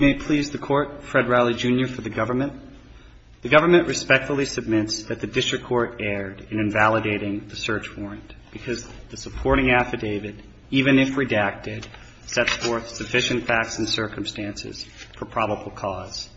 May it please the court, Fred Rowley Jr. for the government. The government respectfully submits that the district court erred in invalidating the search warrant because the supporting affidavit, even if redacted, sets forth sufficient facts and circumstances for probable cause.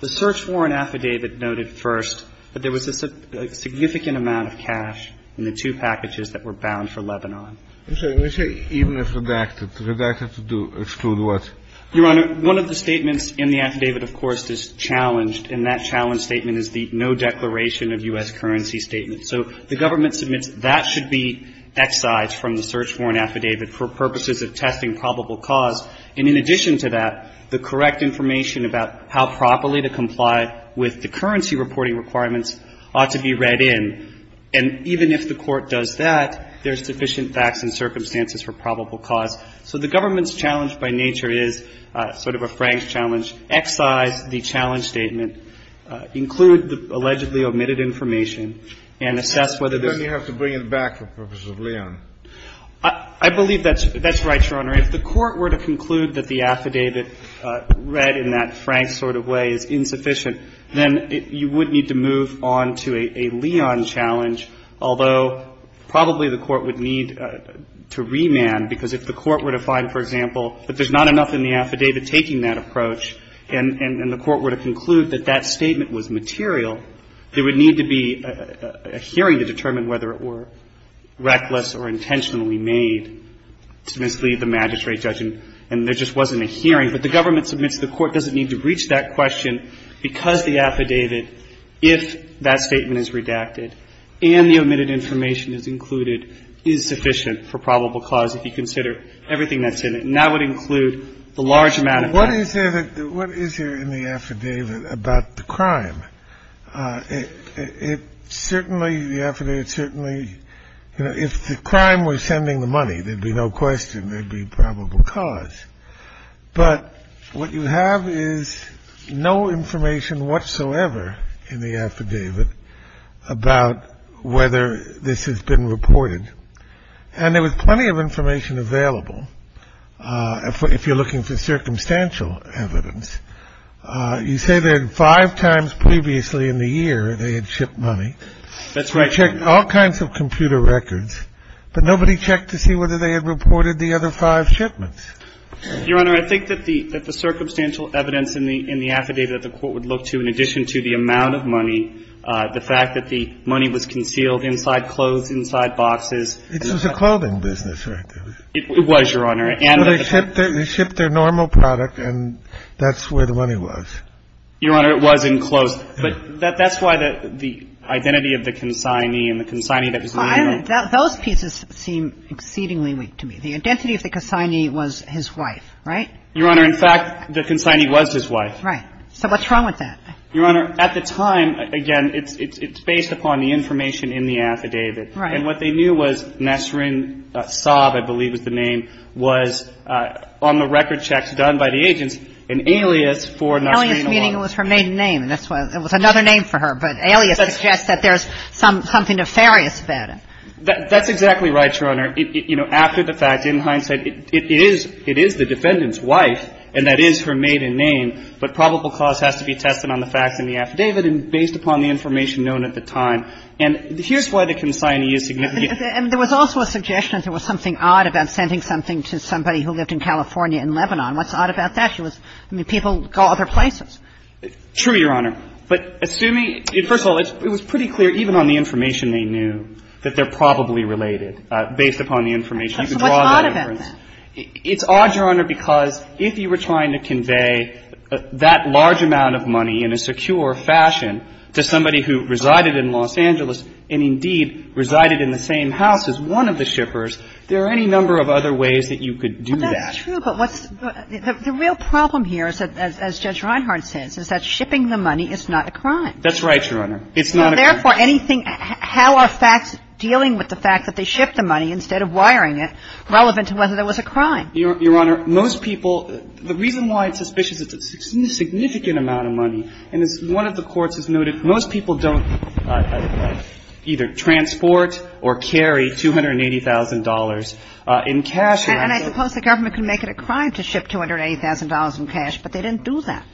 The search warrant affidavit noted first that there was a significant amount of cash in the two packages that were bound for Lebanon. We say even if redacted. Redacted to exclude what? Your Honor, one of the statements in the affidavit, of course, is challenged. And that challenge statement is the no declaration of U.S. currency statement. So the government submits that should be excised from the search warrant affidavit for purposes of testing probable cause. And in addition to that, the correct information about how properly to comply with the currency reporting requirements ought to be read in. And even if the court does that, there's sufficient facts and circumstances for probable cause. So the government's challenge by nature is sort of a Franks challenge. Excise the challenge statement. Include the allegedly omitted information and assess whether there's been any. Then you have to bring it back for purposes of Leon. I believe that's right, Your Honor. If the court were to conclude that the affidavit read in that Franks sort of way is insufficient, then you would need to move on to a Leon challenge, although probably the court would need to remand, because if the court were to find, for example, that there's not enough in the affidavit taking that approach and the court were to conclude that that statement was material, there would need to be a hearing to determine whether it were reckless or intentionally made to mislead the magistrate judge. And there just wasn't a hearing. But the government submits the court doesn't need to reach that question because the affidavit, if that statement is redacted and the omitted information is included, is sufficient for probable cause if you consider everything that's in it, and that would include the large amount of time. What is there in the affidavit about the crime? It certainly, the affidavit certainly, you know, if the crime was sending the money, there'd be no question there'd be probable cause. But what you have is no information whatsoever in the affidavit about whether this has been reported. And there was plenty of information available if you're looking for circumstantial evidence. You say that five times previously in the year they had shipped money. They checked all kinds of computer records, but nobody checked to see whether they had reported the other five shipments. Your Honor, I think that the circumstantial evidence in the affidavit that the court would look to in addition to the amount of money, the fact that the money was concealed inside clothes, inside boxes. It was a clothing business, right? It was, Your Honor. And they shipped their normal product, and that's where the money was. Your Honor, it was enclosed. But that's why the identity of the consignee and the consignee that was legal. Those pieces seem exceedingly weak to me. The identity of the consignee was his wife, right? Your Honor, in fact, the consignee was his wife. Right. So what's wrong with that? Your Honor, at the time, again, it's based upon the information in the affidavit. Right. And what they knew was Nasrin Saab, I believe was the name, was on the record checks done by the agents an alias for Nasrin Awad. Alias meaning it was her maiden name. And that's why it was another name for her. But alias suggests that there's something nefarious about it. That's exactly right, Your Honor. You know, after the fact, in hindsight, it is the defendant's wife, and that is her maiden name, but probable cause has to be tested on the facts in the affidavit and based upon the information known at the time. And here's why the consignee is significant. And there was also a suggestion that there was something odd about sending something to somebody who lived in California and Lebanon. What's odd about that? She was – I mean, people go other places. True, Your Honor. But assuming – first of all, it was pretty clear, even on the information they knew, that they're probably related based upon the information. So what's odd about that? It's odd, Your Honor, because if you were trying to convey that large amount of money in a secure fashion to somebody who resided in Los Angeles and, indeed, resided in the same house as one of the shippers, there are any number of other ways that you could do that. Well, that's true, but what's – the real problem here, as Judge Reinhart says, is that shipping the money is not a crime. That's right, Your Honor. It's not a crime. And therefore, anything – how are facts dealing with the fact that they ship the money instead of wiring it, relevant to whether there was a crime? Your Honor, most people – the reason why it's suspicious is it's a significant amount of money. And as one of the courts has noted, most people don't either transport or carry $280,000 in cash. And I suppose the government can make it a crime to ship $280,000 in cash, but they didn't do that.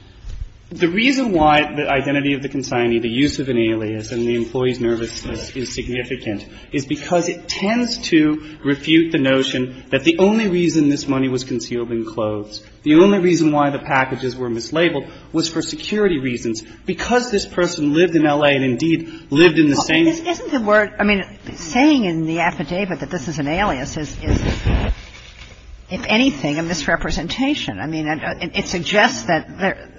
The reason why the identity of the consignee, the use of an alias, and the employee's nervousness is significant is because it tends to refute the notion that the only reason this money was concealed in clothes, the only reason why the packages were mislabeled, was for security reasons. Because this person lived in L.A. and, indeed, lived in the same – Isn't the word – I mean, saying in the affidavit that this is an alias is, if anything, a misrepresentation. I mean, it suggests that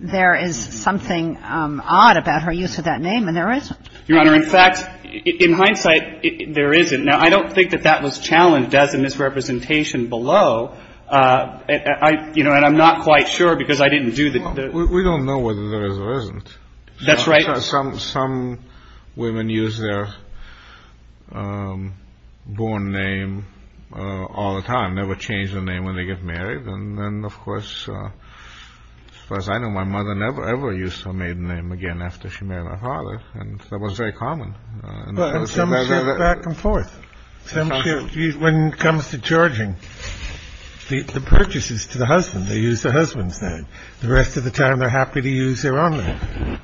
there is something odd about her use of that name, and there isn't. Your Honor, in fact, in hindsight, there isn't. Now, I don't think that that was challenged as a misrepresentation below. I – you know, and I'm not quite sure because I didn't do the – Well, we don't know whether there is or isn't. That's right. Some women use their born name all the time, never change the name when they get married. And then, of course, as far as I know, my mother never, ever used her maiden name again after she married my father, and that was very common. Well, and some share back and forth. Some share – when it comes to charging the purchases to the husband, they use their husband's name. The rest of the time, they're happy to use their own name.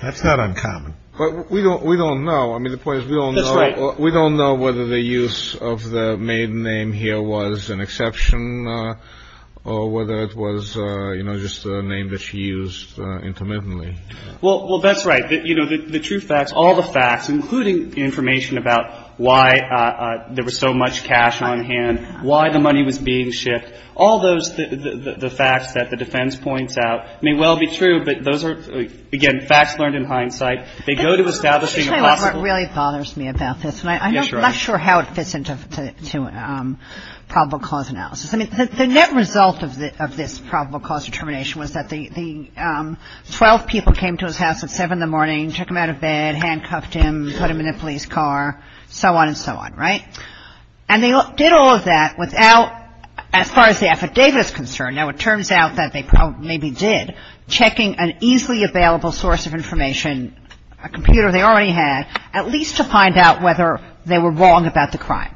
That's not uncommon. But we don't – we don't know. I mean, the point is, we don't know – That's right. I mean, I don't know whether it was a misrepresentation or whether it was, you know, just a name that she used intermittently. Well, that's right. You know, the true facts, all the facts, including information about why there was so much cash on hand, why the money was being shipped, all those – the facts that the defense points out may well be true, but those are, again, facts learned in hindsight. They go to establishing a possible – The net result of this probable cause of termination was that the – 12 people came to his house at 7 in the morning, took him out of bed, handcuffed him, put him in a police car, so on and so on, right? And they did all of that without – as far as the affidavit is concerned – now, it turns out that they probably – maybe did – checking an easily available source of information, a computer they already had, at least to find out whether they were wrong about the crime,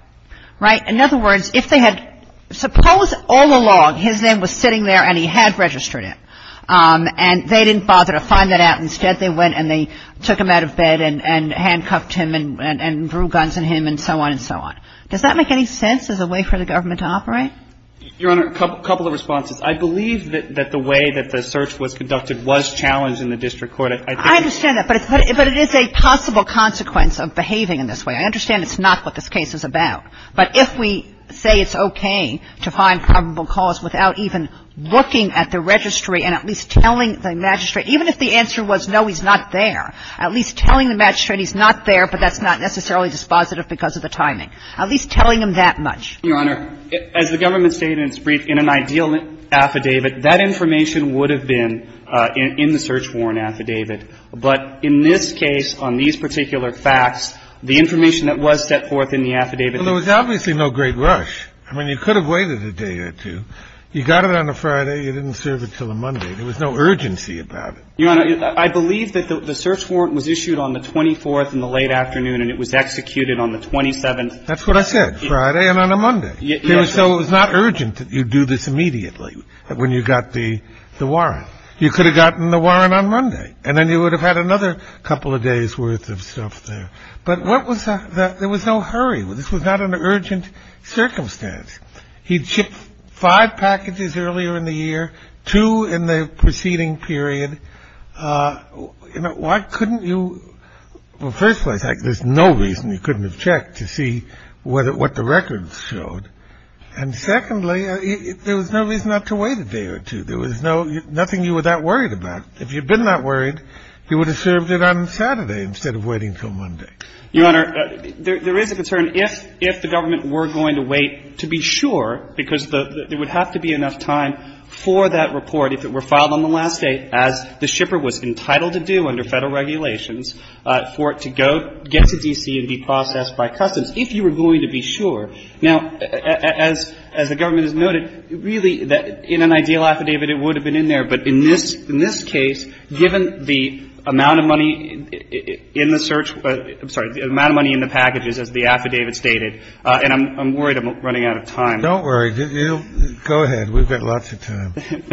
right? In other words, if they had – suppose all along his name was sitting there and he had registered it, and they didn't bother to find that out. Instead, they went and they took him out of bed and handcuffed him and drew guns at him and so on and so on. Does that make any sense as a way for the government to operate? Your Honor, a couple of responses. I believe that the way that the search was conducted was challenged in the district court. I think – I understand that, but it is a possible consequence of behaving in this way. I understand it's not what this case is about. But if we say it's okay to find probable cause without even looking at the registry and at least telling the magistrate – even if the answer was no, he's not there – at least telling the magistrate he's not there, but that's not necessarily dispositive because of the timing, at least telling him that much. Your Honor, as the government stated in its brief, in an ideal affidavit, that information would have been in the search warrant affidavit. But in this case, on these particular facts, the information that was set forth in the It was not in the search warrant affidavit. And there was obviously no great rush. I mean, you could have waited a day or two. You got it on a Friday. You didn't serve it until a Monday. There was no urgency about it. Your Honor, I believe that the search warrant was issued on the 24th in the late afternoon and it was executed on the 27th. That's what I said, Friday and on a Monday. So it was not urgent that you do this immediately when you got the warrant. You could have gotten the warrant on Monday. And then you would have had another couple of days' worth of stuff there. But there was no hurry. This was not an urgent circumstance. He'd shipped five packages earlier in the year, two in the preceding period. Why couldn't you? Well, first of all, there's no reason you couldn't have checked to see what the records showed. And secondly, there was no reason not to wait a day or two. There was nothing you were that worried about. If you'd been that worried, you would have served it on Saturday instead of waiting until Monday. Your Honor, there is a concern if the government were going to wait, to be sure, because there would have to be enough time for that report if it were filed on the last day, as the shipper was entitled to do under Federal regulations, for it to get to D.C. and be processed by customs, if you were going to be sure. Now, as the government has noted, really, in an ideal affidavit, it would have been in there. But in this case, given the amount of money in the search – I'm sorry, the amount of money in the packages, as the affidavit stated – and I'm worried I'm running out of time. Don't worry. Go ahead. We've got lots of time. Thank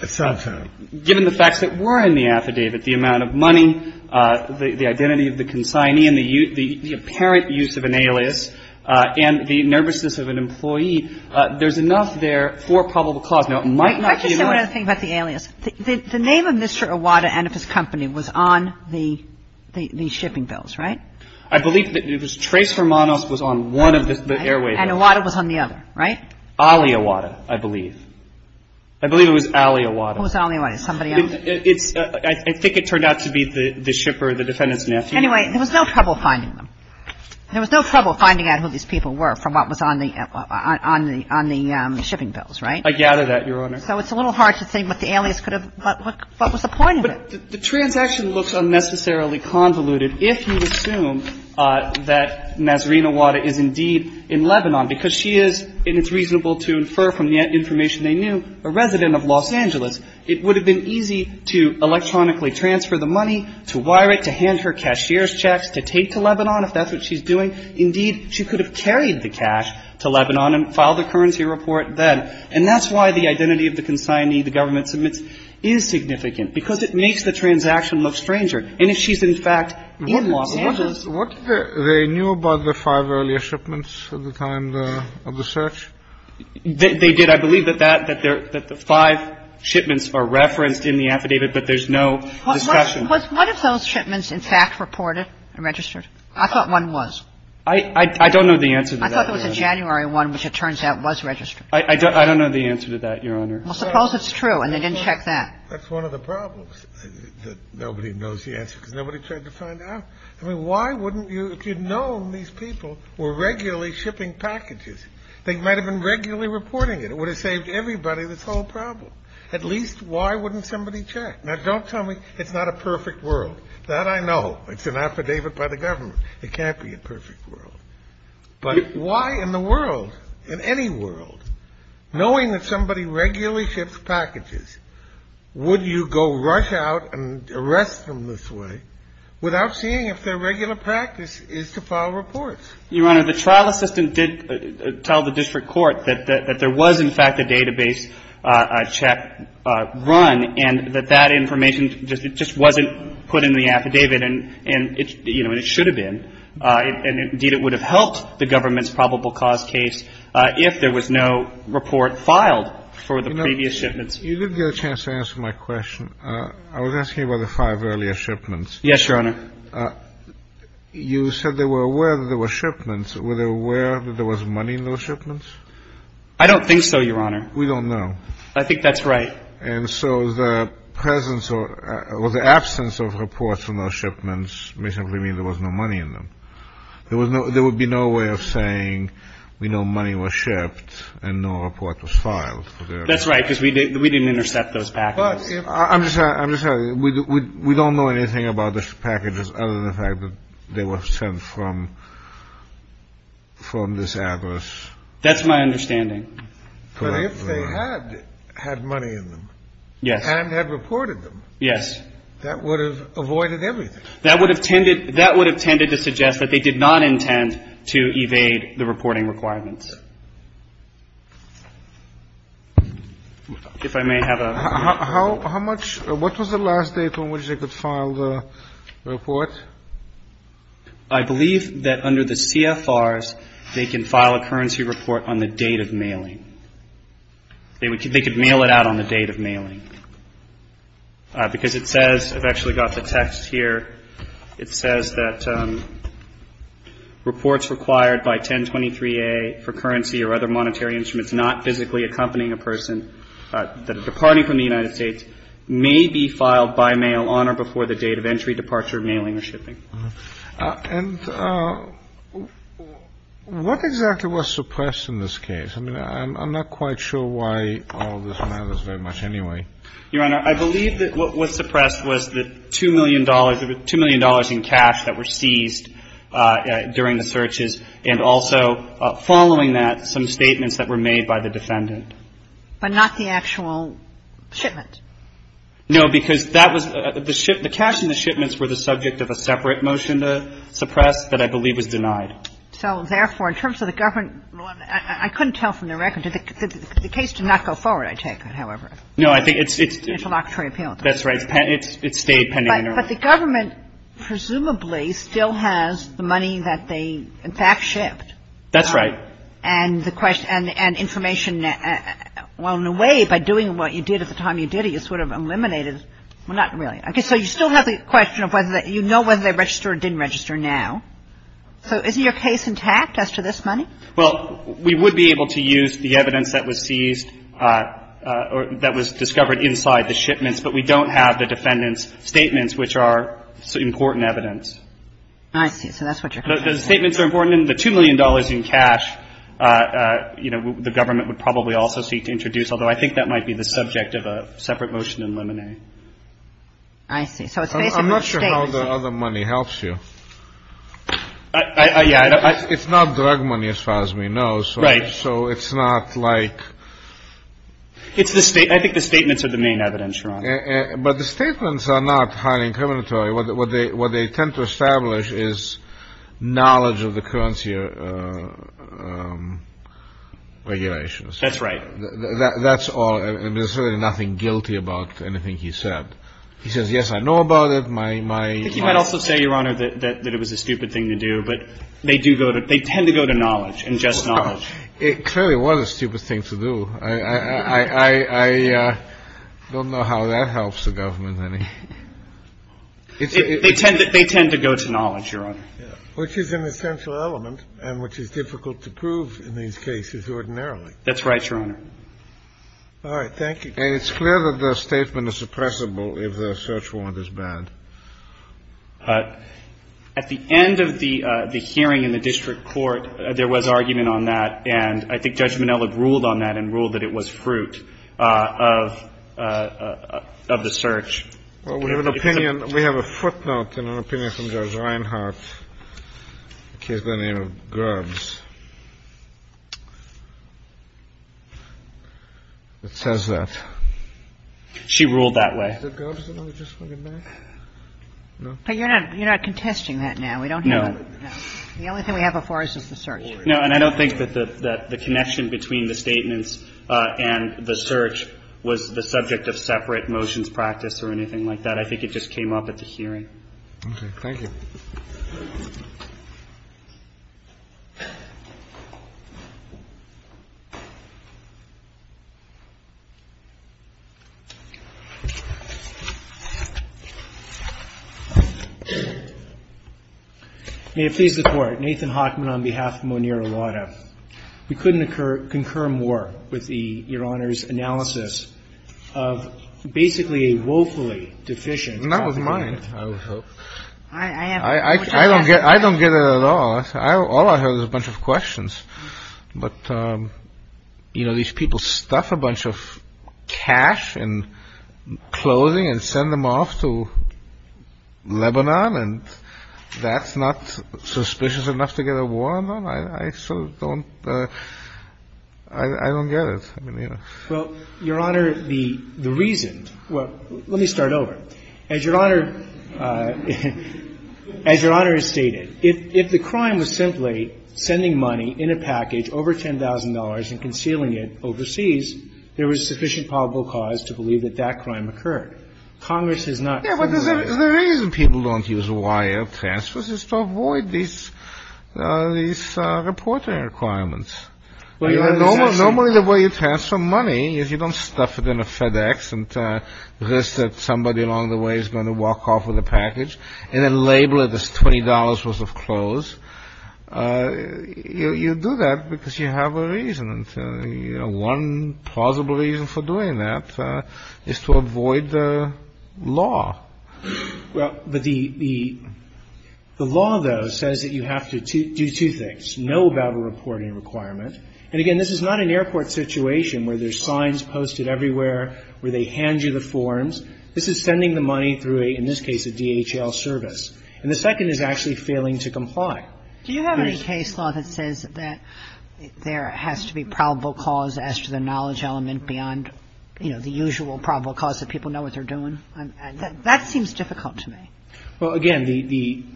you. Some time. Given the facts that were in the affidavit, the amount of money, the identity of the consignee, the apparent use of an alias, and the nervousness of an employee, there's enough there for a probable cause. Now, it might not be enough. Let me just say one other thing about the alias. The name of Mr. Iwata and of his company was on the shipping bills, right? I believe that it was Trace Hermanos was on one of the airway bills. And Iwata was on the other, right? Ali Iwata, I believe. I believe it was Ali Iwata. Who was Ali Iwata? Somebody else? I think it turned out to be the shipper, the defendant's nephew. Anyway, there was no trouble finding them. There was no trouble finding out who these people were from what was on the shipping bills, right? I gather that, Your Honor. So it's a little hard to say what the alias could have, what was the point of it. The transaction looks unnecessarily convoluted if you assume that Nazarene Iwata is indeed in Lebanon, because she is, and it's reasonable to infer from the information they knew, a resident of Los Angeles. It would have been easy to electronically transfer the money, to wire it, to hand her cashier's checks, to take to Lebanon if that's what she's doing. Indeed, she could have carried the cash to Lebanon and filed a currency report then. And that's why the identity of the consignee the government submits is significant, because it makes the transaction look stranger. And if she's, in fact, in Los Angeles. What did they know about the five earlier shipments at the time of the search? They did. I believe that the five shipments are referenced in the affidavit, but there's no discussion. Was one of those shipments, in fact, reported and registered? I thought one was. I don't know the answer to that, Your Honor. I thought it was a January one, which it turns out was registered. I don't know the answer to that, Your Honor. Well, suppose it's true and they didn't check that. That's one of the problems, that nobody knows the answer, because nobody tried to find out. I mean, why wouldn't you, if you'd known these people were regularly shipping packages? They might have been regularly reporting it. It would have saved everybody this whole problem. At least, why wouldn't somebody check? Now, don't tell me it's not a perfect world. That I know. It's an affidavit by the government. It can't be a perfect world. But why in the world, in any world, knowing that somebody regularly ships packages, would you go rush out and arrest them this way without seeing if their regular practice is to file reports? Your Honor, the trial assistant did tell the district court that there was, in fact, a database check run and that that information just wasn't put in the affidavit. And it should have been. And indeed, it would have helped the government's probable cause case if there was no report filed for the previous shipments. You didn't get a chance to answer my question. I was asking about the five earlier shipments. Yes, Your Honor. You said they were aware that there were shipments. Were they aware that there was money in those shipments? I don't think so, Your Honor. We don't know. I think that's right. And so the absence of reports from those shipments may simply mean there was no money in them. There would be no way of saying we know money was shipped and no report was filed. That's right, because we didn't intercept those packages. I'm sorry. We don't know anything about those packages other than the fact that they were sent from this address. That's my understanding. But if they had had money in them and had reported them, that would have avoided everything. That would have tended to suggest that they did not intend to evade the reporting requirements. If I may have a... How much, what was the last date on which they could file the report? I believe that under the CFRs, they can file a currency report on the date of mailing. They could mail it out on the date of mailing. Because it says, I've actually got the text here. It says that reports required by 1023A for currency or other monetary instruments not physically accompanying a person departing from the United States may be filed by mail on or before the date of entry, departure, mailing, or shipping. And what exactly was suppressed in this case? I mean, I'm not quite sure why all this matters very much anyway. Your Honor, I believe that what was suppressed was the $2 million in cash that were seized during the searches, and also following that, some statements that were made by the defendant. But not the actual shipment? No, because that was the ship – the cash in the shipments were the subject of a separate motion to suppress that I believe was denied. So therefore, in terms of the government – I couldn't tell from the record. The case did not go forward, I take it, however. No, I think it's – Interlocutory appeal. That's right. It stayed pending. But the government presumably still has the money that they in fact shipped. That's right. And the question – and information – well, in a way, by doing what you did at the time you did it, you sort of eliminated – well, not really. So you still have the question of whether – you know whether they registered or didn't register now. So is your case intact as to this money? Well, we would be able to use the evidence that was seized or that was discovered inside the shipments, but we don't have the defendant's statements, which are important evidence. I see. So that's what you're saying. The statements are important. And the $2 million in cash, you know, the government would probably also seek to introduce, although I think that might be the subject of a separate motion in Limine. I see. So it's based on the statements. I'm not sure how the other money helps you. Yeah. It's not drug money as far as we know. Right. So it's not like – It's the – I think the statements are the main evidence, Your Honor. But the statements are not highly incriminatory. What they tend to establish is knowledge of the currency regulations. That's right. That's all. There's certainly nothing guilty about anything he said. He says, yes, I know about it. My – They tend to go to knowledge and just knowledge. It clearly was a stupid thing to do. I don't know how that helps the government any. They tend to go to knowledge, Your Honor. Which is an essential element and which is difficult to prove in these cases ordinarily. That's right, Your Honor. All right. Thank you. And it's clear that the statement is suppressible if the search warrant is banned. At the end of the hearing in the district court, there was argument on that. And I think Judge Minnelli ruled on that and ruled that it was fruit of the search. Well, we have an opinion – we have a footnote and an opinion from Judge Reinhart. The case by the name of Grubbs. It says that. She ruled that way. But you're not – you're not contesting that now. No. The only thing we have before us is the search. No. And I don't think that the connection between the statements and the search was the subject of separate motions practiced or anything like that. I think it just came up at the hearing. Okay. Thank you. May it please the Court. Nathan Hockman on behalf of Moneer Awada. We couldn't concur more with the – Your Honor's analysis of basically a woefully deficient – That was mine. I don't get it at all. All I heard was a bunch of questions. But, you know, these people stuff a bunch of cash in clothing and send them off to Lebanon and that's not suspicious enough to get a warrant on? I sort of don't – I don't get it. I mean, you know. Well, Your Honor, the reason – well, let me start over. As Your Honor – as Your Honor has stated, if the crime was simply sending money in a package over $10,000 and concealing it overseas, there was sufficient probable cause to believe that that crime occurred. Congress has not – Yeah, but the reason people don't use wire transfers is to avoid these reporting requirements. Normally the way you transfer money is you don't stuff it in a FedEx and risk that somebody along the way is going to walk off with a package and then label it as $20 worth of clothes. You do that because you have a reason. You know, one plausible reason for doing that is to avoid the law. Well, but the law, though, says that you have to do two things. Know about a reporting requirement. And, again, this is not an airport situation where there's signs posted everywhere, where they hand you the forms. This is sending the money through, in this case, a DHL service. And the second is actually failing to comply. Do you have any case law that says that there has to be probable cause as to the knowledge element beyond, you know, the usual probable cause that people know what they're doing? That seems difficult to me. Well, again, the –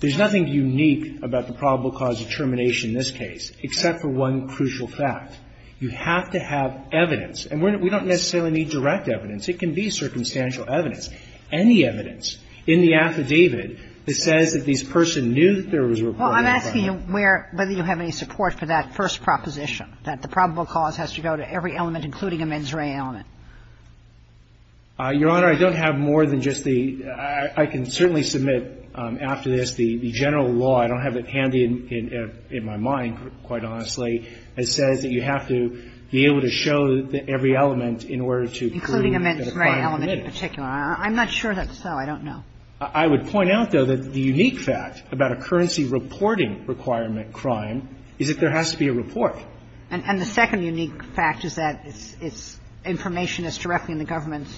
there's nothing unique about the probable cause of termination in this case except for one crucial fact. You have to have evidence. And we don't necessarily need direct evidence. It can be circumstantial evidence, any evidence in the affidavit that says that this person knew that there was a reporting requirement. Well, I'm asking you where – whether you have any support for that first proposition, that the probable cause has to go to every element, including a mens rea element. Your Honor, I don't have more than just the – I can certainly submit after this the general law. I don't have it handy in my mind, quite honestly. It says that you have to be able to show that every element in order to prove that a crime committed. I'm not sure that's so. I don't know. I would point out, though, that the unique fact about a currency reporting requirement crime is that there has to be a report. And the second unique fact is that it's information that's directly in the government's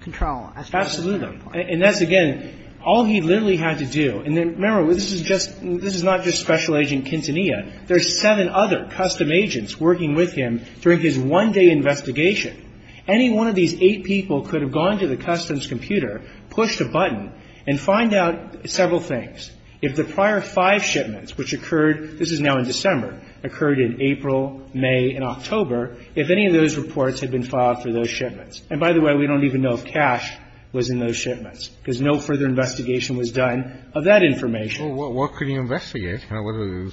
control as to whether there's a report. Absolutely. And that's, again, all he literally had to do. And remember, this is just – this is not just Special Agent Quintanilla. There's seven other custom agents working with him during his one-day investigation. Any one of these eight people could have gone to the customs computer, pushed a button, and find out several things. If the prior five shipments, which occurred – this is now in December – occurred in April, May, and October, if any of those reports had been filed for those shipments. And by the way, we don't even know if cash was in those shipments, because no further investigation was done of that information. Well, what could he investigate?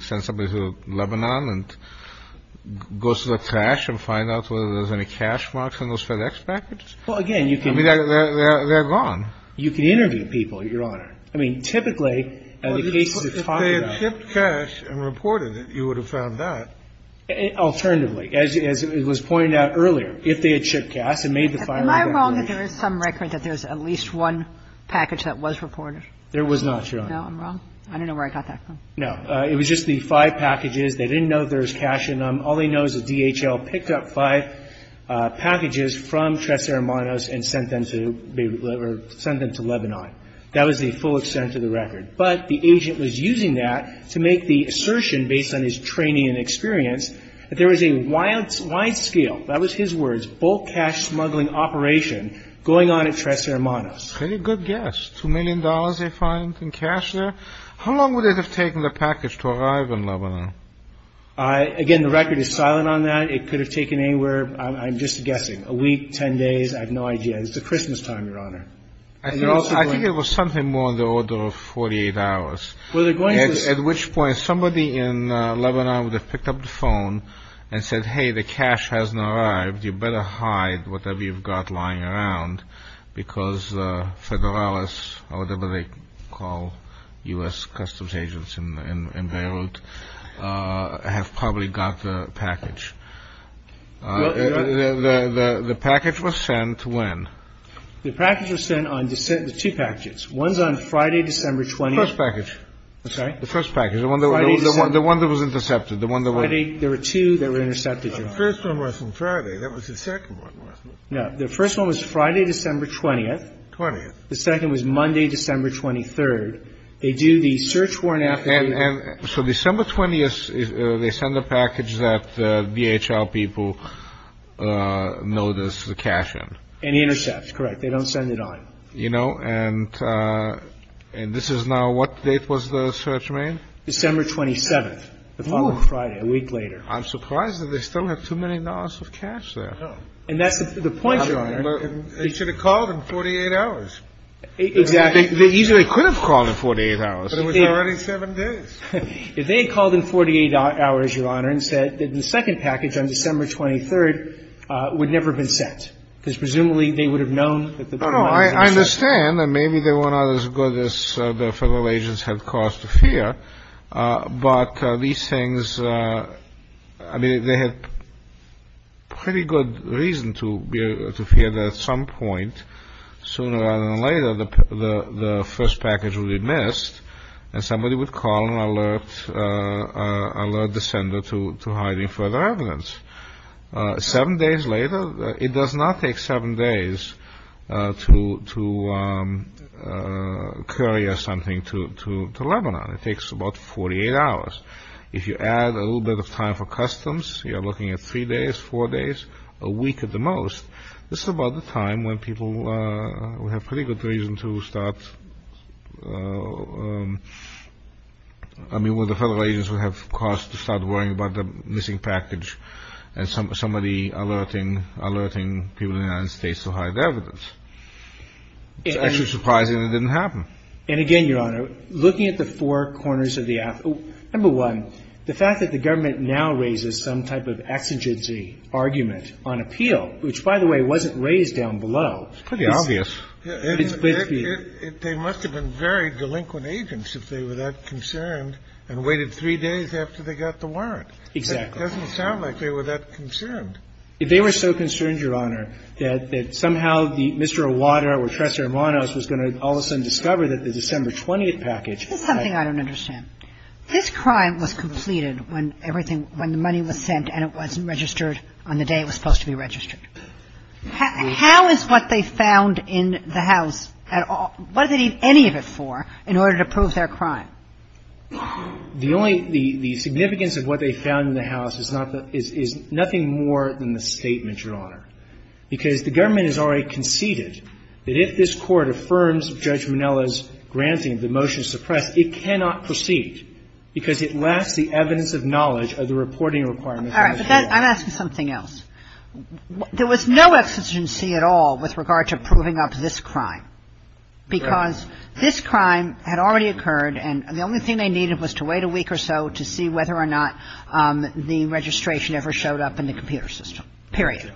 Send somebody to Lebanon and go through the trash and find out whether there's any cash marks on those FedEx packages? Well, again, you can – I mean, they're gone. You can interview people, Your Honor. I mean, typically, in the cases we're talking about – Well, if they had shipped cash and reported it, you would have found that. Alternatively. As it was pointed out earlier, if they had shipped cash and made the filing of that information – Am I wrong that there is some record that there's at least one package that was reported? There was not, Your Honor. No, I'm wrong? I don't know where I got that from. No. It was just the five packages. They didn't know if there was cash in them. All they know is that DHL picked up five packages from Tres Hermanos and sent them to – sent them to Lebanon. That was the full extent of the record. But the agent was using that to make the assertion, based on his training and experience, that there was a wide-scale – that was his words – bulk cash smuggling operation going on at Tres Hermanos. Very good guess. Two million dollars they find in cash there? How long would it have taken the package to arrive in Lebanon? Again, the record is silent on that. It could have taken anywhere – I'm just guessing – a week, ten days, I have no idea. It's the Christmas time, Your Honor. I think it was something more on the order of 48 hours. At which point, somebody in Lebanon would have picked up the phone and said, hey, the cash hasn't arrived, you better hide whatever you've got lying around, because Federalis, or whatever they call U.S. customs agents in Beirut, have probably got the package. The package was sent when? The package was sent on – two packages. One's on Friday, December 20th – First package. I'm sorry? The first package. The one that was intercepted. There were two that were intercepted, Your Honor. The first one was on Friday. That was the second one, wasn't it? No, the first one was Friday, December 20th. 20th. The second was Monday, December 23rd. They do the search warrant – So December 20th, they send a package that DHL people notice the cash in. And intercepts, correct. They don't send it on. You know, and this is now – what date was the search made? December 27th, the following Friday, a week later. I'm surprised that they still have too many dollars of cash there. And that's the point, Your Honor. They should have called in 48 hours. Exactly. They easily could have called in 48 hours. But it was already seven days. If they had called in 48 hours, Your Honor, and said that the second package on December 23rd would never have been sent, because presumably they would have known that the – No, no. I understand. And maybe they weren't as good as the Federal agents had caused to fear. But these things – I mean, they had pretty good reason to fear that at some point, sooner rather than later, the first package would be missed, and somebody would call and alert the sender to hiding further evidence. Seven days later, it does not take seven days to carry something to Lebanon. It takes about 48 hours. If you add a little bit of time for customs, you're looking at three days, four days, a week at the most. This is about the time when people would have pretty good reason to start – I mean, when the Federal agents would have caused to start worrying about the missing package and somebody alerting people in the United States to hide evidence. It's actually surprising it didn't happen. And again, Your Honor, looking at the four corners of the – Number one, the fact that the government now raises some type of exigency argument on appeal, which, by the way, wasn't raised down below. It's pretty obvious. They must have been very delinquent agents if they were that concerned and waited three days after they got the warrant. Exactly. It doesn't sound like they were that concerned. If they were so concerned, Your Honor, that somehow the – Mr. Awada or Tres Hermanos was going to all of a sudden discover that the December 20th package – This is something I don't understand. This crime was completed when everything – when the money was sent and it wasn't registered on the day it was supposed to be registered. How is what they found in the house at all – what do they need any of it for in order to prove their crime? The only – the significance of what they found in the house is not the – is nothing more than the statement, Your Honor, because the government has already conceded that if this Court affirms Judge Minnella's granting of the motion to suppress, it cannot proceed because it lacks the evidence of knowledge of the reporting requirements. I'm asking something else. There was no exigency at all with regard to proving up this crime because this crime had already occurred and the only thing they needed was to wait a week or so to see whether or not the registration ever showed up in the computer system, period.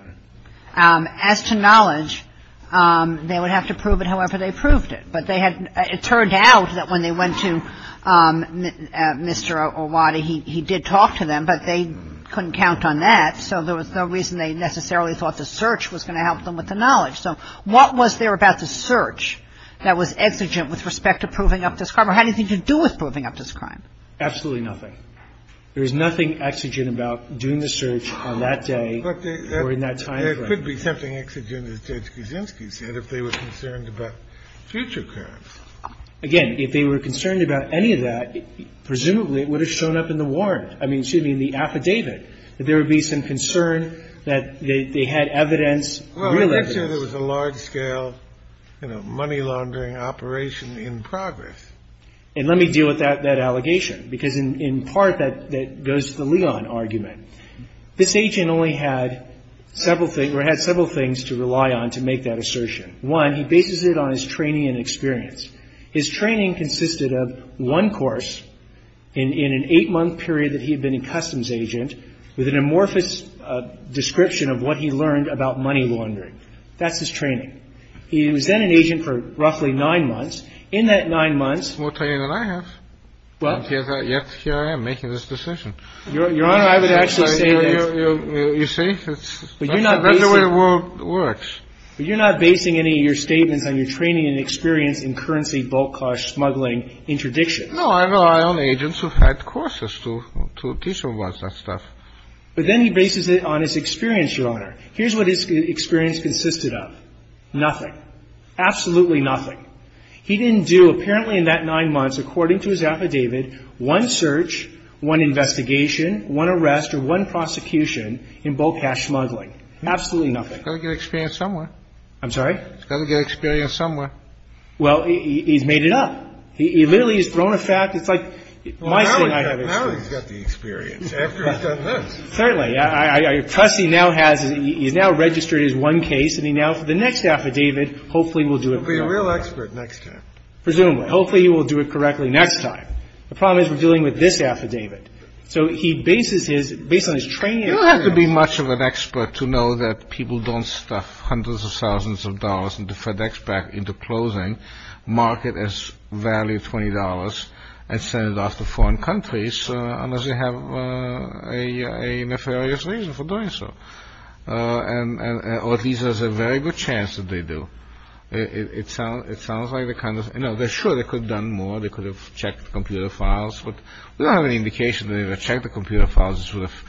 As to knowledge, they would have to prove it however they proved it. But they had – it turned out that when they went to Mr. Awada, he did talk to them, but they couldn't count on that, so there was no reason they necessarily thought the search was going to help them with the knowledge. So what was there about the search that was exigent with respect to proving up this crime or had anything to do with proving up this crime? Absolutely nothing. There was nothing exigent about doing the search on that day or in that timeframe. But there could be something exigent, as Judge Kuczynski said, if they were concerned about future crimes. Again, if they were concerned about any of that, presumably it would have shown up in the warrant. I mean, excuse me, in the affidavit that there would be some concern that they had evidence, real evidence. Well, let's say there was a large-scale, you know, money-laundering operation in progress. And let me deal with that allegation, because in part that goes to the Leon argument. This agent only had several things – or had several things to rely on to make that assertion. One, he bases it on his training and experience. His training consisted of one course in an eight-month period that he had been a customs agent with an amorphous description of what he learned about money laundering. That's his training. He was then an agent for roughly nine months. In that nine months – More training than I have. What? Yet here I am, making this decision. Your Honor, I would actually say that – You see? But you're not basing – That's the way the world works. But you're not basing any of your statements on your training and experience in currency bulk-cash smuggling interdictions. No, I rely on agents who've had courses to teach them about that stuff. But then he bases it on his experience, Your Honor. Here's what his experience consisted of. Nothing. Absolutely nothing. He didn't do, apparently in that nine months, according to his affidavit, one search, one investigation, one arrest, or one prosecution in bulk-cash smuggling. Absolutely nothing. He's got to get experience somewhere. I'm sorry? He's got to get experience somewhere. Well, he's made it up. He literally has thrown a fact. It's like – Well, now he's got the experience, after he's done this. Certainly. Plus, he now has – he's now registered his one case. And he now, for the next affidavit, hopefully will do it – He'll be a real expert next time. Presumably. Hopefully he will do it correctly next time. The problem is we're dealing with this affidavit. So he bases his – based on his training – You don't have to be much of an expert to know that people don't stuff hundreds of thousands of dollars into FedEx back into closing, mark it as value $20, and send it off to foreign countries, unless they have a nefarious reason for doing so. Or at least there's a very good chance that they do. It sounds like the kind of – no, sure, they could have done more. They could have checked the computer files. But we don't have any indication that even checking the computer files would have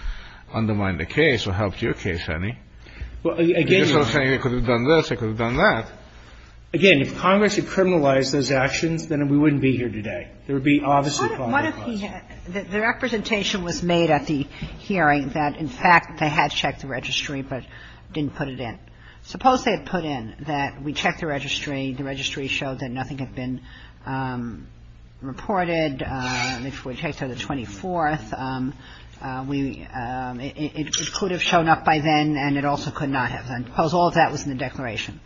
undermined the case or helped your case any. Well, again – They could have done this. They could have done that. Again, if Congress had criminalized those actions, then we wouldn't be here today. There would be obviously – What if he had – the representation was made at the hearing that, in fact, they had checked the registry, but didn't put it in. Suppose they had put in that we checked the registry, the registry showed that nothing had been reported. If we take to the 24th, we – it could have shown up by then, and it also could not have. Suppose all of that was in the declaration.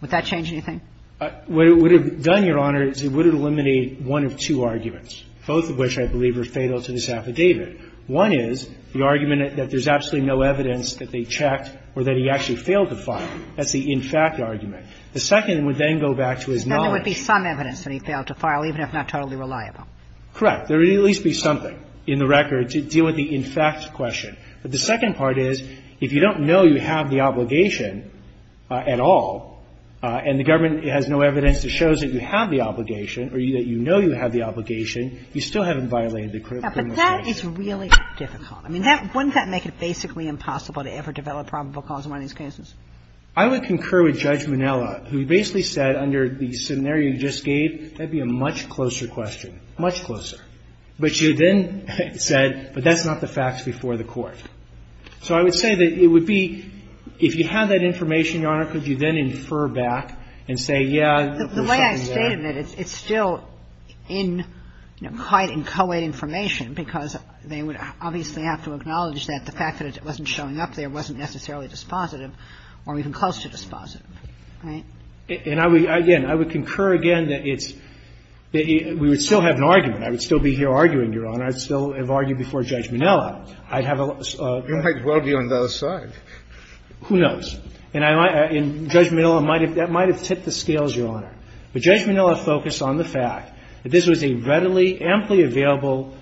Would that change anything? What it would have done, Your Honor, is it would have eliminated one of two arguments, both of which I believe are fatal to this affidavit. One is the argument that there's absolutely no evidence that they checked or that he actually failed to file. That's the in fact argument. The second would then go back to his knowledge. So there would be some evidence that he failed to file, even if not totally reliable. Correct. There would at least be something in the record to deal with the in fact question. But the second part is, if you don't know you have the obligation at all, and the government has no evidence that shows that you have the obligation or that you know you have the obligation, you still haven't violated the criminal case. But that is really difficult. I mean, wouldn't that make it basically impossible to ever develop probable cause in one of these cases? I would concur with Judge Monella, who basically said under the scenario you just gave, that would be a much closer question, much closer. But she then said, but that's not the facts before the court. So I would say that it would be, if you had that information, Your Honor, could you then infer back and say, yeah, there's something there. The way I stated it, it's still in, you know, quite inchoate information, because they would obviously have to acknowledge that the fact that it wasn't showing up there wasn't necessarily dispositive or even close to dispositive, right? And I would, again, I would concur again that it's, that we would still have an argument. I would still be here arguing, Your Honor. I'd still have argued before Judge Monella. I'd have a... You might well be on the other side. Who knows. And I might, and Judge Monella might have, that might have tipped the scales, Your Honor. But Judge Monella focused on the fact that this was a readily, amply available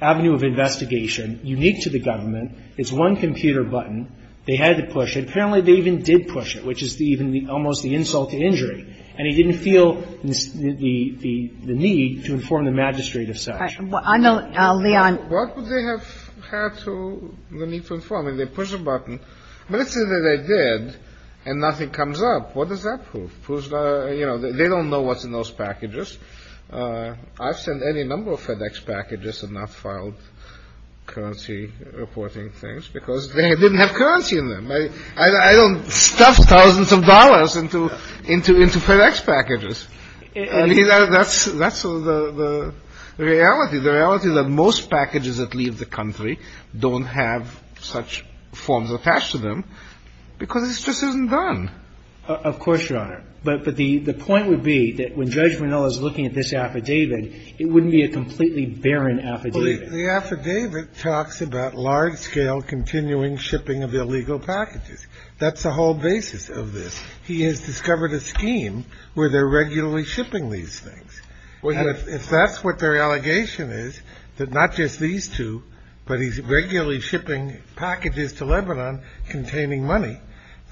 avenue of investigation unique to the government. And I would argue that there is a need to inform the magistrate of such a thing. And I would argue that the magistrate of such a thing, it's one computer button. They had to push it. Apparently, they even did push it, which is even the, almost the insult to injury. And he didn't feel the need to inform the magistrate of such. I know, Leon. What would they have had to, the need to inform? I mean, they push a button. But let's say that they did and nothing comes up. What does that prove? You know, they don't know what's in those packages. I've sent any number of FedEx packages and not filed currency reporting things because they didn't have currency in them. I don't stuff thousands of dollars into FedEx packages. I mean, that's the reality, the reality that most packages that leave the country don't have such forms attached to them because it just isn't done. Of course, Your Honor. But the point would be that when Judge Minnell is looking at this affidavit, it wouldn't be a completely barren affidavit. The affidavit talks about large-scale continuing shipping of illegal packages. That's the whole basis of this. He has discovered a scheme where they're regularly shipping these things. If that's what their allegation is, that not just these two, but he's regularly shipping packages to Lebanon containing money,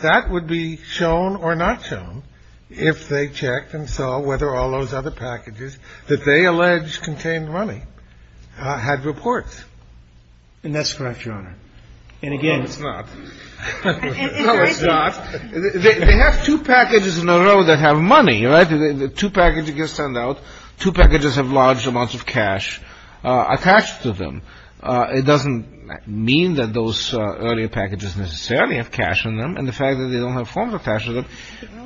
that would be shown or not shown if they checked and saw whether all those other packages that they allege contained money had reports. And that's correct, Your Honor. And again... No, it's not. No, it's not. They have two packages in a row that have money, right? Two packages get sent out. Two packages have large amounts of cash attached to them. It doesn't mean that those earlier packages necessarily have cash on them. And the fact that they don't have forms attached to them,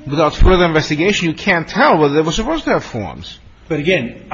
without further investigation, you can't tell whether they were supposed to have forms. But again,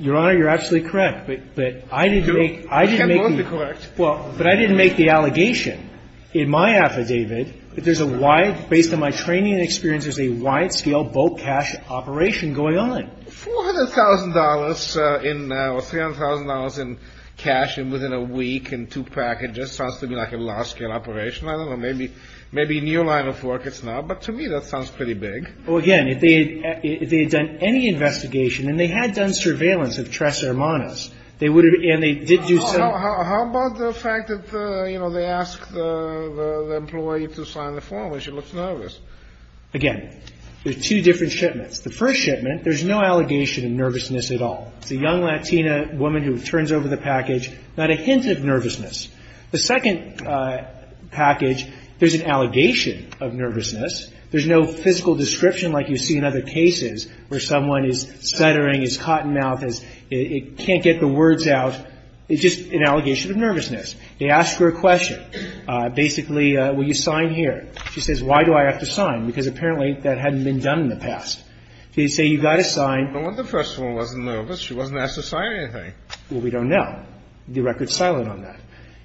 Your Honor, you're absolutely correct. But I didn't make the... You can't both be correct. But I didn't make the allegation in my affidavit that there's a wide, based on my training and experience, there's a wide-scale bulk cash operation going on. $400,000 or $300,000 in cash and within a week in two packages sounds to me like a large-scale operation. I don't know. Maybe a new line of work it's not. But to me, that sounds pretty big. Well, again, if they had done any investigation, and they had done surveillance of Tres Hermanas, they would have... And they did do some... How about the fact that they asked the employee to sign the form? She looks nervous. Again, there's two different shipments. The first shipment, there's no allegation of nervousness at all. It's a young Latina woman who turns over the package, not a hint of nervousness. The second package, there's an allegation of nervousness. There's no physical description like you see in other cases where someone is stuttering, is caught in mouth, can't get the words out. It's just an allegation of nervousness. They ask her a question. Basically, will you sign here? She says, why do I have to sign? Because apparently, that hadn't been done in the past. They say, you've got to sign. But the first one wasn't nervous. She wasn't asked to sign anything. Well, we don't know. The record's silent on that.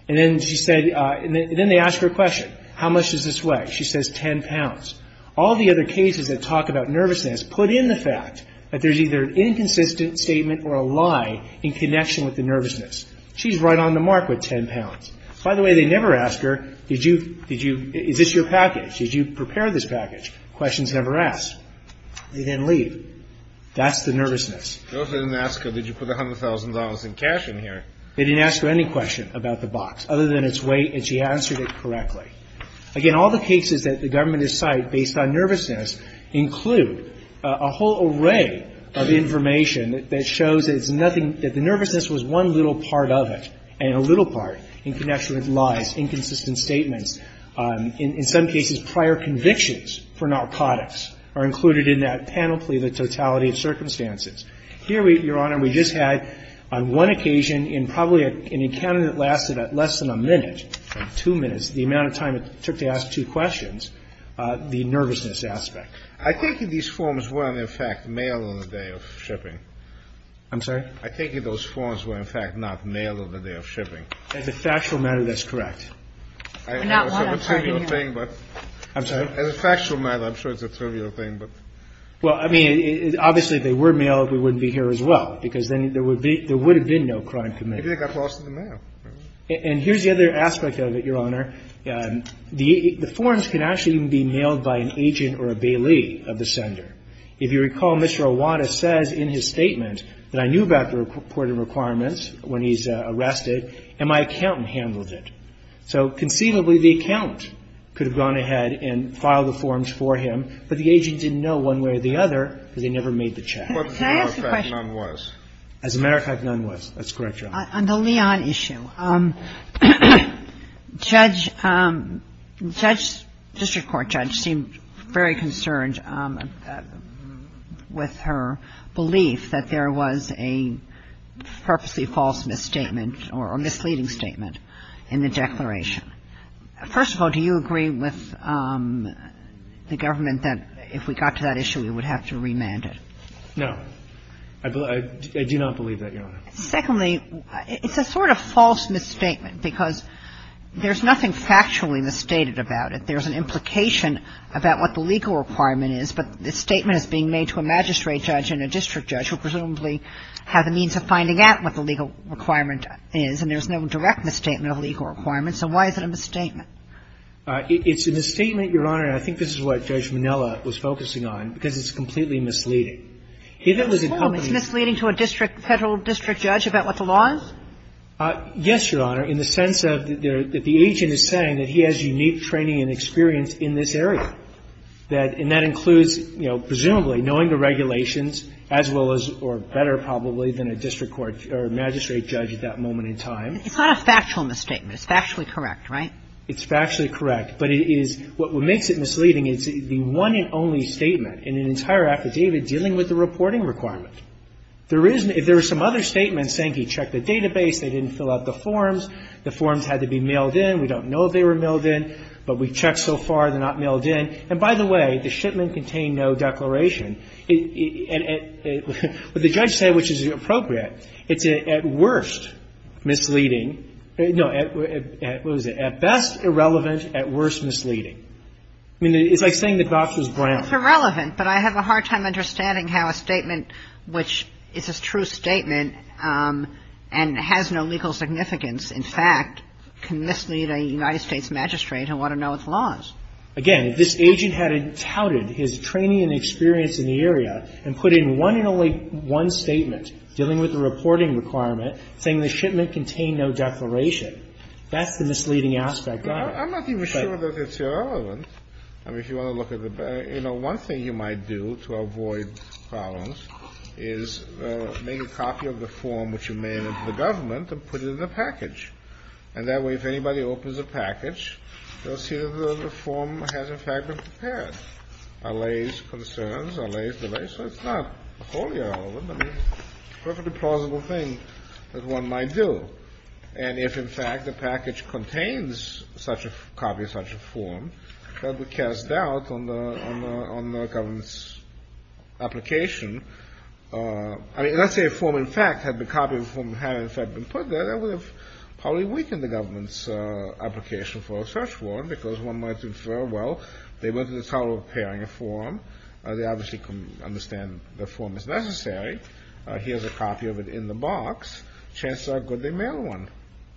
And then she said... And then they ask her a question. How much does this weigh? She says 10 pounds. All the other cases that talk about nervousness put in the fact that there's either an inconsistent statement or a lie in connection with the nervousness. She's right on the mark with 10 pounds. By the way, they never ask her, did you... Is this your package? Did you prepare this package? Questions never asked. They didn't leave. That's the nervousness. They also didn't ask her, did you put $100,000 in cash in here? They didn't ask her any question about the box other than its weight. And she answered it correctly. Again, all the cases that the government has cited based on nervousness include a whole array of information that shows that it's nothing... That the nervousness was one little part of it. And a little part in connection with lies, inconsistent statements. In some cases, prior convictions for narcotics are included in that panoply, the totality of circumstances. Here, Your Honor, we just had on one occasion in probably an encounter that lasted at less than a minute, two minutes, the amount of time it took to ask two questions, the nervousness aspect. I think these forms were, in fact, mail on the day of shipping. I'm sorry? I think those forms were, in fact, not mail on the day of shipping. As a factual matter, that's correct. I know it's a trivial thing, but... I'm sorry? As a factual matter, I'm sure it's a trivial thing, but... Well, I mean, obviously, if they were mailed, we wouldn't be here as well, because then there would have been no crime committed. Maybe they got lost in the mail. And here's the other aspect of it, Your Honor. The forms can actually even be mailed by an agent or a bailee of the sender. If you recall, Mr. Awada says in his statement that I knew about the reporting requirements when he's arrested, and my accountant handled it. So conceivably, the accountant could have gone ahead and filed the forms for him, but the agent didn't know one way or the other, because he never made the check. Can I ask a question? As a matter of fact, none was. As a matter of fact, none was. That's correct, Your Honor. On the Leon issue, Judge, District Court Judge seemed very concerned with her belief that there was a purposely false misstatement or misleading statement in the declaration. First of all, do you agree with the government that if we got to that issue, we would have to remand it? No. I do not believe that, Your Honor. Secondly, it's a sort of false misstatement, because there's nothing factually misstated about it. There's an implication about what the legal requirement is, but the statement is being made to a magistrate judge and a district judge who presumably have the means of finding out what the legal requirement is, and there's no direct misstatement of legal requirements. So why is it a misstatement? It's a misstatement, Your Honor, and I think this is what Judge Minella was focusing on, because it's completely misleading. If it was a company It's misleading to a district, federal district judge about what the law is? Yes, Your Honor, in the sense of that the agent is saying that he has unique training and experience in this area. And that includes, you know, presumably knowing the regulations as well as or better probably than a district court or magistrate judge at that moment in time. It's not a factual misstatement. It's factually correct, right? It's factually correct. But it is what makes it misleading is the one and only statement in an entire affidavit dealing with the reporting requirement. There is no If there were some other statements saying he checked the database, they didn't fill out the forms, the forms had to be mailed in. We don't know if they were mailed in, but we checked so far they're not mailed in. And by the way, the shipment contained no declaration. And what the judge said, which is appropriate, it's at worst misleading. No, what is it? At best irrelevant, at worst misleading. I mean, it's like saying the doctor's brand. It's irrelevant. But I have a hard time understanding how a statement which is a true statement and has no legal significance, in fact, can mislead a United States magistrate who want to know its laws. Again, if this agent had touted his training and experience in the area and put in one and only one statement dealing with the reporting requirement saying the shipment contained no declaration, that's the misleading aspect. I'm not even sure that it's irrelevant. I mean, if you want to look at the one thing you might do to avoid problems is make a copy of the form which you mail in to the government and put it in the package. And that way, if anybody opens a package, they'll see that the form has, in fact, been prepared. Allays concerns, allays delays. So it's not wholly irrelevant. I mean, it's a perfectly plausible thing that one might do. And if, in fact, the package contains such a copy of such a form, that would cast doubt on the government's application. I mean, let's say a form, in fact, had the copy of the form had, in fact, been put there, that would have probably weakened the government's application for a search warrant because one might infer, well, they went to the trouble of preparing a form. They obviously can understand the form is necessary. Here's a copy of it in the box. Chances are good they mailed one.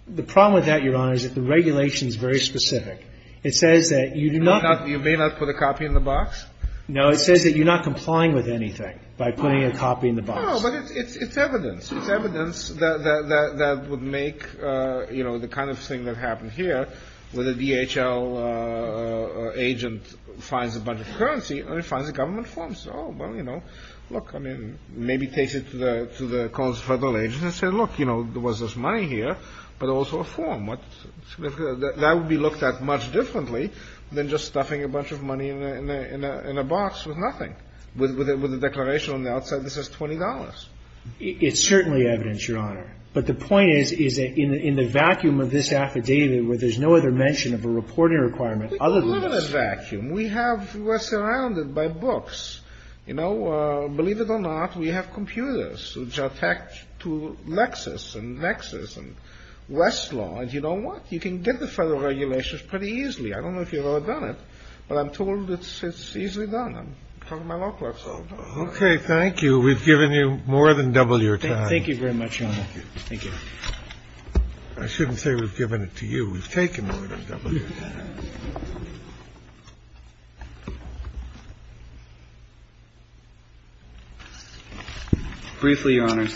The problem with that, Your Honor, is that the regulation is very specific. It says that you do not... You may not put a copy in the box? No, it says that you're not complying with anything by putting a copy in the box. No, but it's evidence. It's evidence that would make, you know, the kind of thing that happened here where the DHL agent finds a bunch of currency and it finds a government form. So, well, you know, look, I mean, maybe take it to the cons-federal agent and say, that would be looked at much differently than just stuffing a bunch of money in a box with nothing, with a declaration on the outside that says $20. It's certainly evidence, Your Honor. But the point is, is that in the vacuum of this affidavit, where there's no other mention of a reporting requirement other than this... We can live in a vacuum. We have... We're surrounded by books. You know, believe it or not, we have computers which are attached to Lexis and Lexis and Westlaw, and you know what? You can get the federal regulations pretty easily. I don't know if you've ever done it, but I'm told it's easily done. I'm talking to my law class. Okay. Thank you. We've given you more than double your time. Thank you very much, Your Honor. Thank you. I shouldn't say we've given it to you. We've taken more than double your time. Briefly, Your Honor,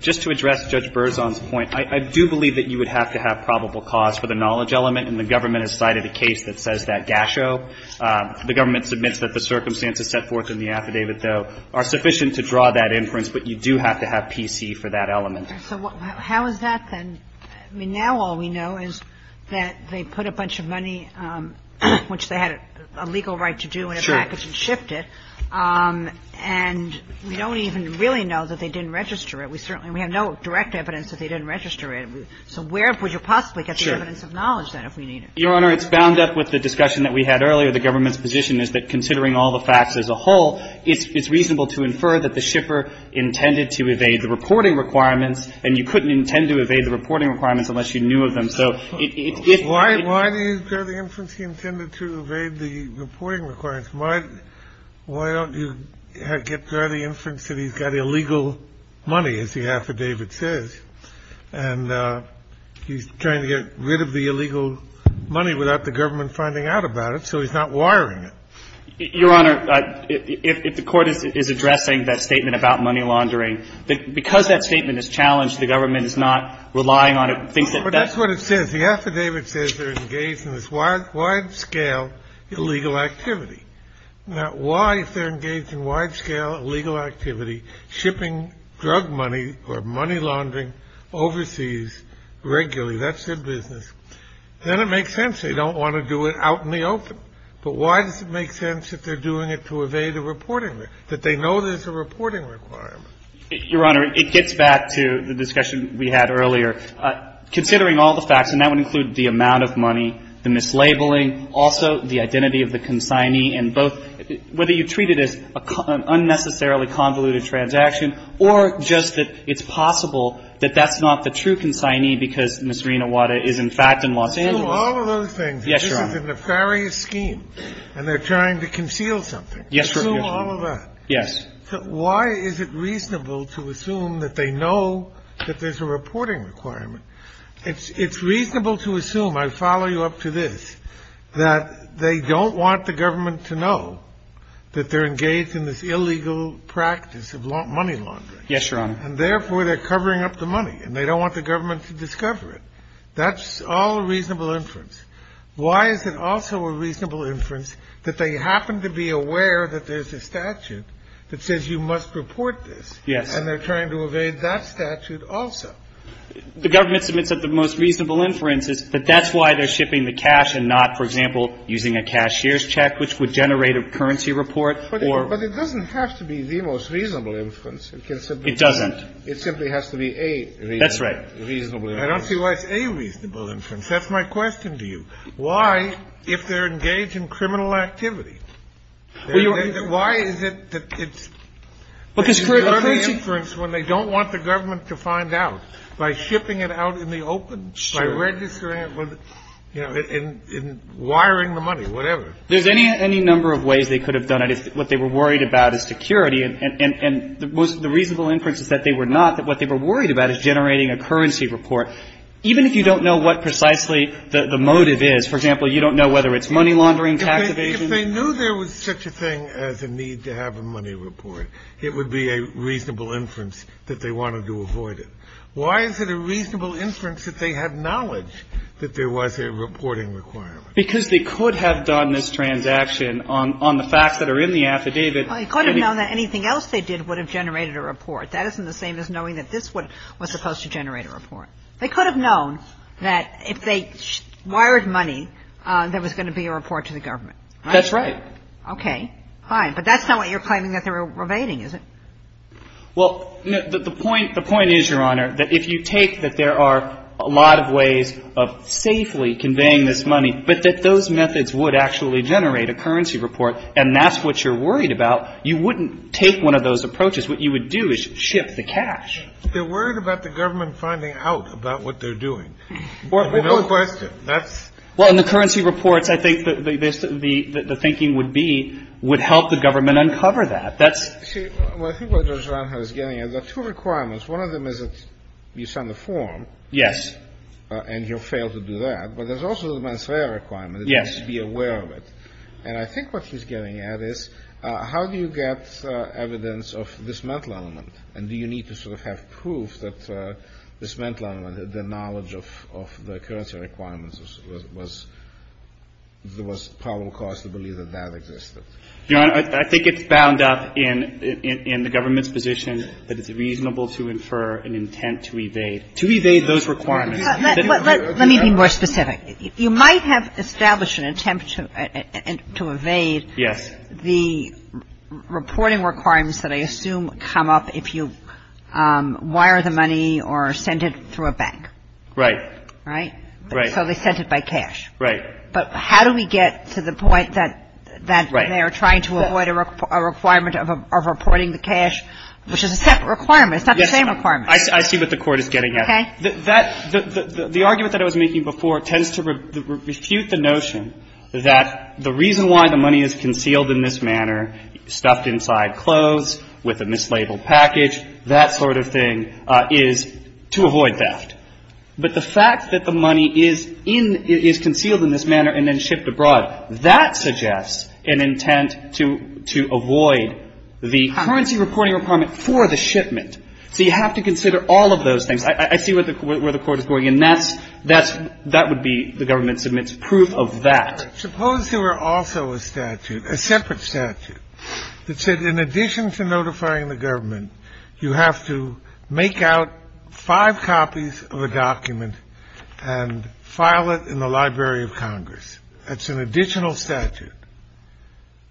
just to address Judge Berzon's point, I do believe that you would have to have probable cause for the knowledge element, and the government has cited a case that says that GASHO, the government submits that the circumstances set forth in the affidavit, though, are sufficient to draw that inference, but you do have to have PC for that element. So how is that then? I mean, now all we know is that they put a bunch of money, which they had a legal right to do in a package, and shipped it. And we don't even really know that they didn't register it. And we have no direct evidence that they didn't register it. So where would you possibly get the evidence of knowledge, then, if we need it? Your Honor, it's bound up with the discussion that we had earlier. The government's position is that considering all the facts as a whole, it's reasonable to infer that the shipper intended to evade the reporting requirements, and you couldn't intend to evade the reporting requirements unless you knew of them. Why didn't he get the inference he intended to evade the reporting requirements? Why don't you get the inference that he's got illegal money? I mean, he's got illegal money, as the affidavit says. And he's trying to get rid of the illegal money without the government finding out about it, so he's not wiring it. Your Honor, if the Court is addressing that statement about money laundering, because that statement is challenged, the government is not relying on it. That's what it says. The affidavit says they're engaged in this wide-scale illegal activity. Now, why, if they're engaged in wide-scale illegal activity, shipping drug money or money laundering overseas regularly? That's their business. Then it makes sense they don't want to do it out in the open. But why does it make sense that they're doing it to evade the reporting? That they know there's a reporting requirement. Your Honor, it gets back to the discussion we had earlier. Considering all the facts, and that would include the amount of money, the mislabeling, also the identity of the consignee, and both, whether you treat it as an unnecessarily convoluted transaction, or just that it's possible that that's not the true consignee, because Ms. Rinawata is, in fact, in Los Angeles. All of those things. Yes, Your Honor. This is a nefarious scheme, and they're trying to conceal something. Yes, Your Honor. Assume all of that. Yes. Why is it reasonable to assume that they know that there's a reporting requirement? It's reasonable to assume, I follow you up to this, that they don't want the government to know that they're engaged in this illegal practice of money laundering. Yes, Your Honor. And therefore, they're covering up the money. And they don't want the government to discover it. That's all reasonable inference. Why is it also a reasonable inference that they happen to be aware that there's a statute that says you must report this? Yes. And they're trying to evade that statute also. The government submits that the most reasonable inference is that that's why they're shipping the cash and not, for example, using a cashier's check, which would generate a currency report or But it doesn't have to be the most reasonable inference. It can simply be It doesn't. It simply has to be a That's right. reasonably inference. I don't see why it's a reasonable inference. That's my question to you. Why, if they're engaged in criminal activity, why is it that it's Because for a person a reasonable inference when they don't want the government to find out. By shipping it out in the open. By registering it. In wiring the money, whatever. There's any number of ways they could have done it. What they were worried about is security. And the reasonable inference is that they were not, that what they were worried about is generating a currency report. Even if you don't know what precisely the motive is, for example, you don't know whether it's money laundering, tax evasion. If they knew there was such a thing as a need to have a money report, it would be a reasonable inference that they wanted to avoid it. Why is it a reasonable inference that they had knowledge that there was a reporting requirement? Because they could have done this transaction on the facts that are in the affidavit. They could have known that anything else they did would have generated a report. That isn't the same as knowing that this was supposed to generate a report. They could have known that if they wired money, there was going to be a report to the government. That's right. Okay. Fine. But that's not what you're claiming that they were evading, is it? Well, the point, the point is, Your Honor, that if you take that there are a lot of ways of safely conveying this money, but that those methods would actually generate a currency report, and that's what you're worried about, you wouldn't take one of those approaches. What you would do is ship the cash. They're worried about the government finding out about what they're doing. No question. Well, in the currency reports, I think the thinking would be, would help the government uncover that. See, what I think what Judge Ranha is getting at, there are two requirements. One of them is that you send a form. Yes. And you'll fail to do that. But there's also the mens rea requirement. You have to be aware of it. And I think what he's getting at is, how do you get evidence of this mental element? And do you need to sort of have proof that this mental element, the knowledge of the currency requirements, there was probable cause to believe that that existed? Your Honor, I think it's bound up in the government's position that it's reasonable to infer an intent to evade. To evade those requirements. Let me be more specific. You might have established an attempt to evade. Yes. The reporting requirements that I assume come up if you wire the money or send it through a bank. Right. Right? Right. So they sent it by cash. Right. But how do we get to the point that they are trying to avoid a requirement of reporting the cash, which is a separate requirement. It's not the same requirement. I see what the Court is getting at. Okay. The argument that I was making before tends to refute the notion that the reason why the money is concealed in this manner, stuffed inside clothes with a mislabeled package, that sort of thing, is to avoid theft. But the fact that the money is concealed in this manner and then shipped abroad, that suggests an intent to avoid the currency reporting requirement for the shipment. So you have to consider all of those things. I see where the Court is going. And that would be, the government submits proof of that. Suppose there were also a statute, a separate statute, that said in addition to notifying the government, you have to make out five copies of a document and file it in the Library of Congress. That's an additional statute.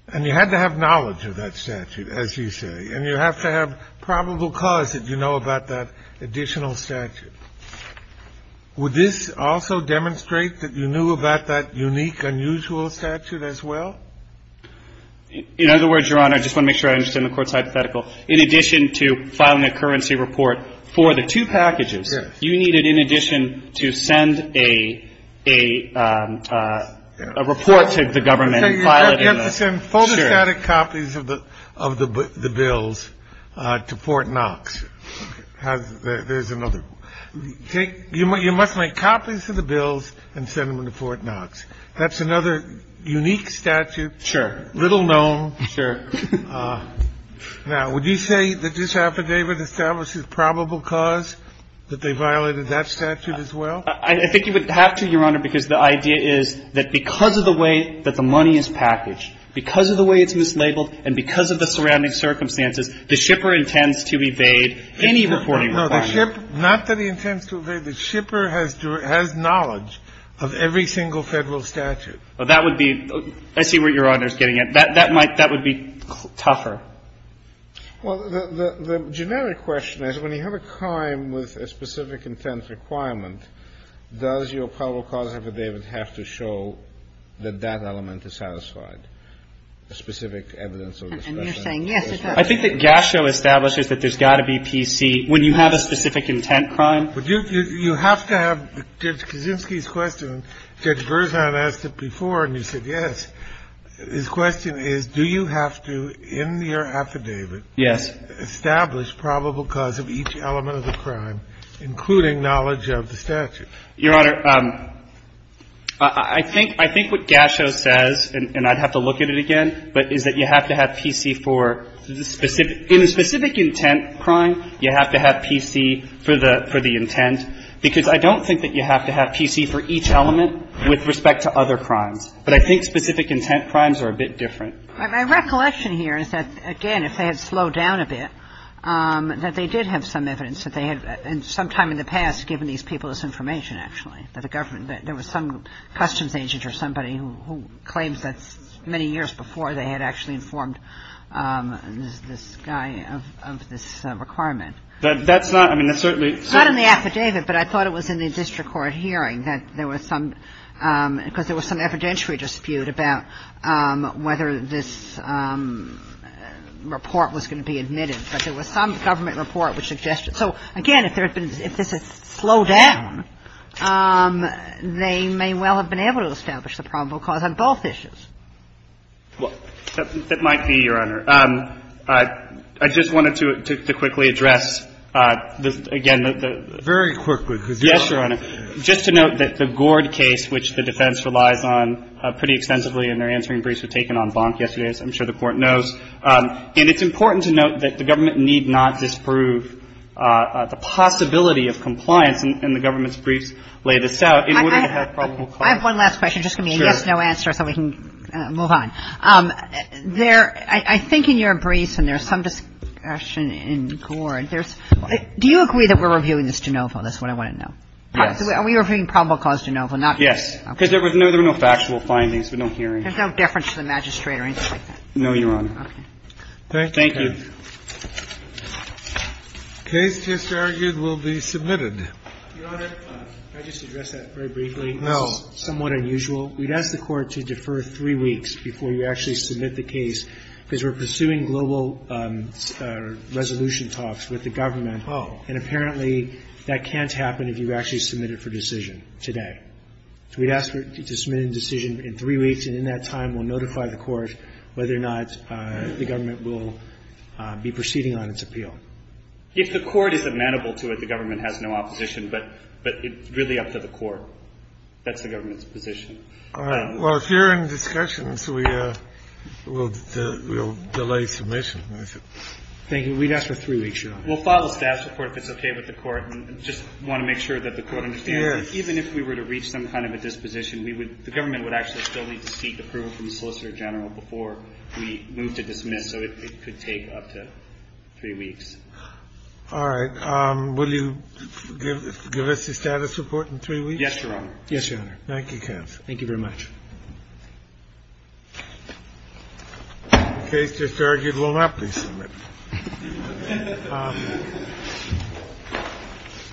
And you had to have knowledge of that statute, as you say. And you have to have probable cause that you know about that additional statute. Would this also demonstrate that you knew about that unique, unusual statute as well? In other words, Your Honor, I just want to make sure I understand the Court's hypothetical. In addition to filing a currency report for the two packages, you need it in addition to send a report to the government and file it in the... You have to send photostatic copies of the bills to Fort Knox. There's another. You must make copies of the bills and send them to Fort Knox. That's another unique statute. Sure. Little known. Sure. Now, would you say that this affidavit establishes probable cause, that they violated that statute as well? I think you would have to, Your Honor, because the idea is that because of the way that the money is packaged, because of the way it's mislabeled, and because of the surrounding circumstances, the shipper intends to evade any reporting requirement. No, the ship... Not that he intends to evade. The shipper has knowledge of every single Federal statute. That would be... I see where Your Honor is getting at. That would be tougher. Well, the generic question is, when you have a crime with a specific intent requirement, does your probable cause affidavit have to show that that element is satisfied, specific evidence of... And you're saying, yes, it does. I think that Gasho establishes that there's got to be PC. When you have a specific intent crime... You have to have Judge Kaczynski's question. Judge Berzan asked it before, and you said yes. His question is, do you have to, in your affidavit... Yes. ...establish probable cause of each element of the crime, including knowledge of the statute? Your Honor, I think what Gasho says, and I'd have to look at it again, but is that you have to have PC for the specific... In a specific intent crime, you have to have PC for the intent, because I don't think that you have to have PC for each element with respect to other crimes. But I think specific intent crimes are a bit different. My recollection here is that, again, if they had slowed down a bit, that they did have some evidence that they had, sometime in the past, given these people this information, actually, that there was some customs agent or somebody who claims that many years before they had actually informed this guy of this requirement. That's not, I mean, that's certainly... Not in the affidavit, but I thought it was in the district court hearing, that there was some, because there was some evidentiary dispute about whether this report was going to be admitted. But there was some government report which suggested... So, again, if there had been, if this had slowed down, they may well have been able to establish the probable cause on both issues. Well, that might be, Your Honor. I just wanted to quickly address, again, the... Very quickly, because... Yes, Your Honor. Just to note that the Gord case, which the defense relies on pretty extensively and their answering briefs were taken on Bonk yesterday, as I'm sure the Court knows. And it's important to note that the government need not disprove the possibility of compliance in the government's briefs laid us out in order to have probable cause. I have one last question. Just give me a yes-no answer so we can move on. There, I think in your briefs, and there's some discussion in Gord, there's... Do you agree that we're reviewing this de novo? That's what I want to know. Yes. Are we reviewing probable cause de novo? Yes. Because there were no factual findings, but no hearings. There's no deference to the magistrate or anything like that? No, Your Honor. Okay. Thank you. The case just argued will be submitted. Your Honor, can I just address that very briefly? No. It's somewhat unusual. We'd ask the Court to defer three weeks before you actually submit the case because we're pursuing global resolution talks with the government. Oh. And apparently that can't happen if you actually submit it for decision today. So we'd ask for you to submit a decision in three weeks and in that time we'll notify the Court whether or not the government will be proceeding on its appeal. If the Court is amenable to it, the government has no opposition, but it's really up to the Court. That's the government's position. All right. Well, if you're in discussions, we'll delay submission. Thank you. We'd ask for three weeks, Your Honor. We'll file a status report if it's okay with the Court and just want to make sure that the Court understands that even if we were to reach some kind of a disposition, the government would actually still need to seek approval from the Solicitor General before we move to dismiss. So it could take up to three weeks. All right. Will you give us the status report in three weeks? Yes, Your Honor. Yes, Your Honor. Thank you, counsel. Thank you very much. The case just argued will not be submitted.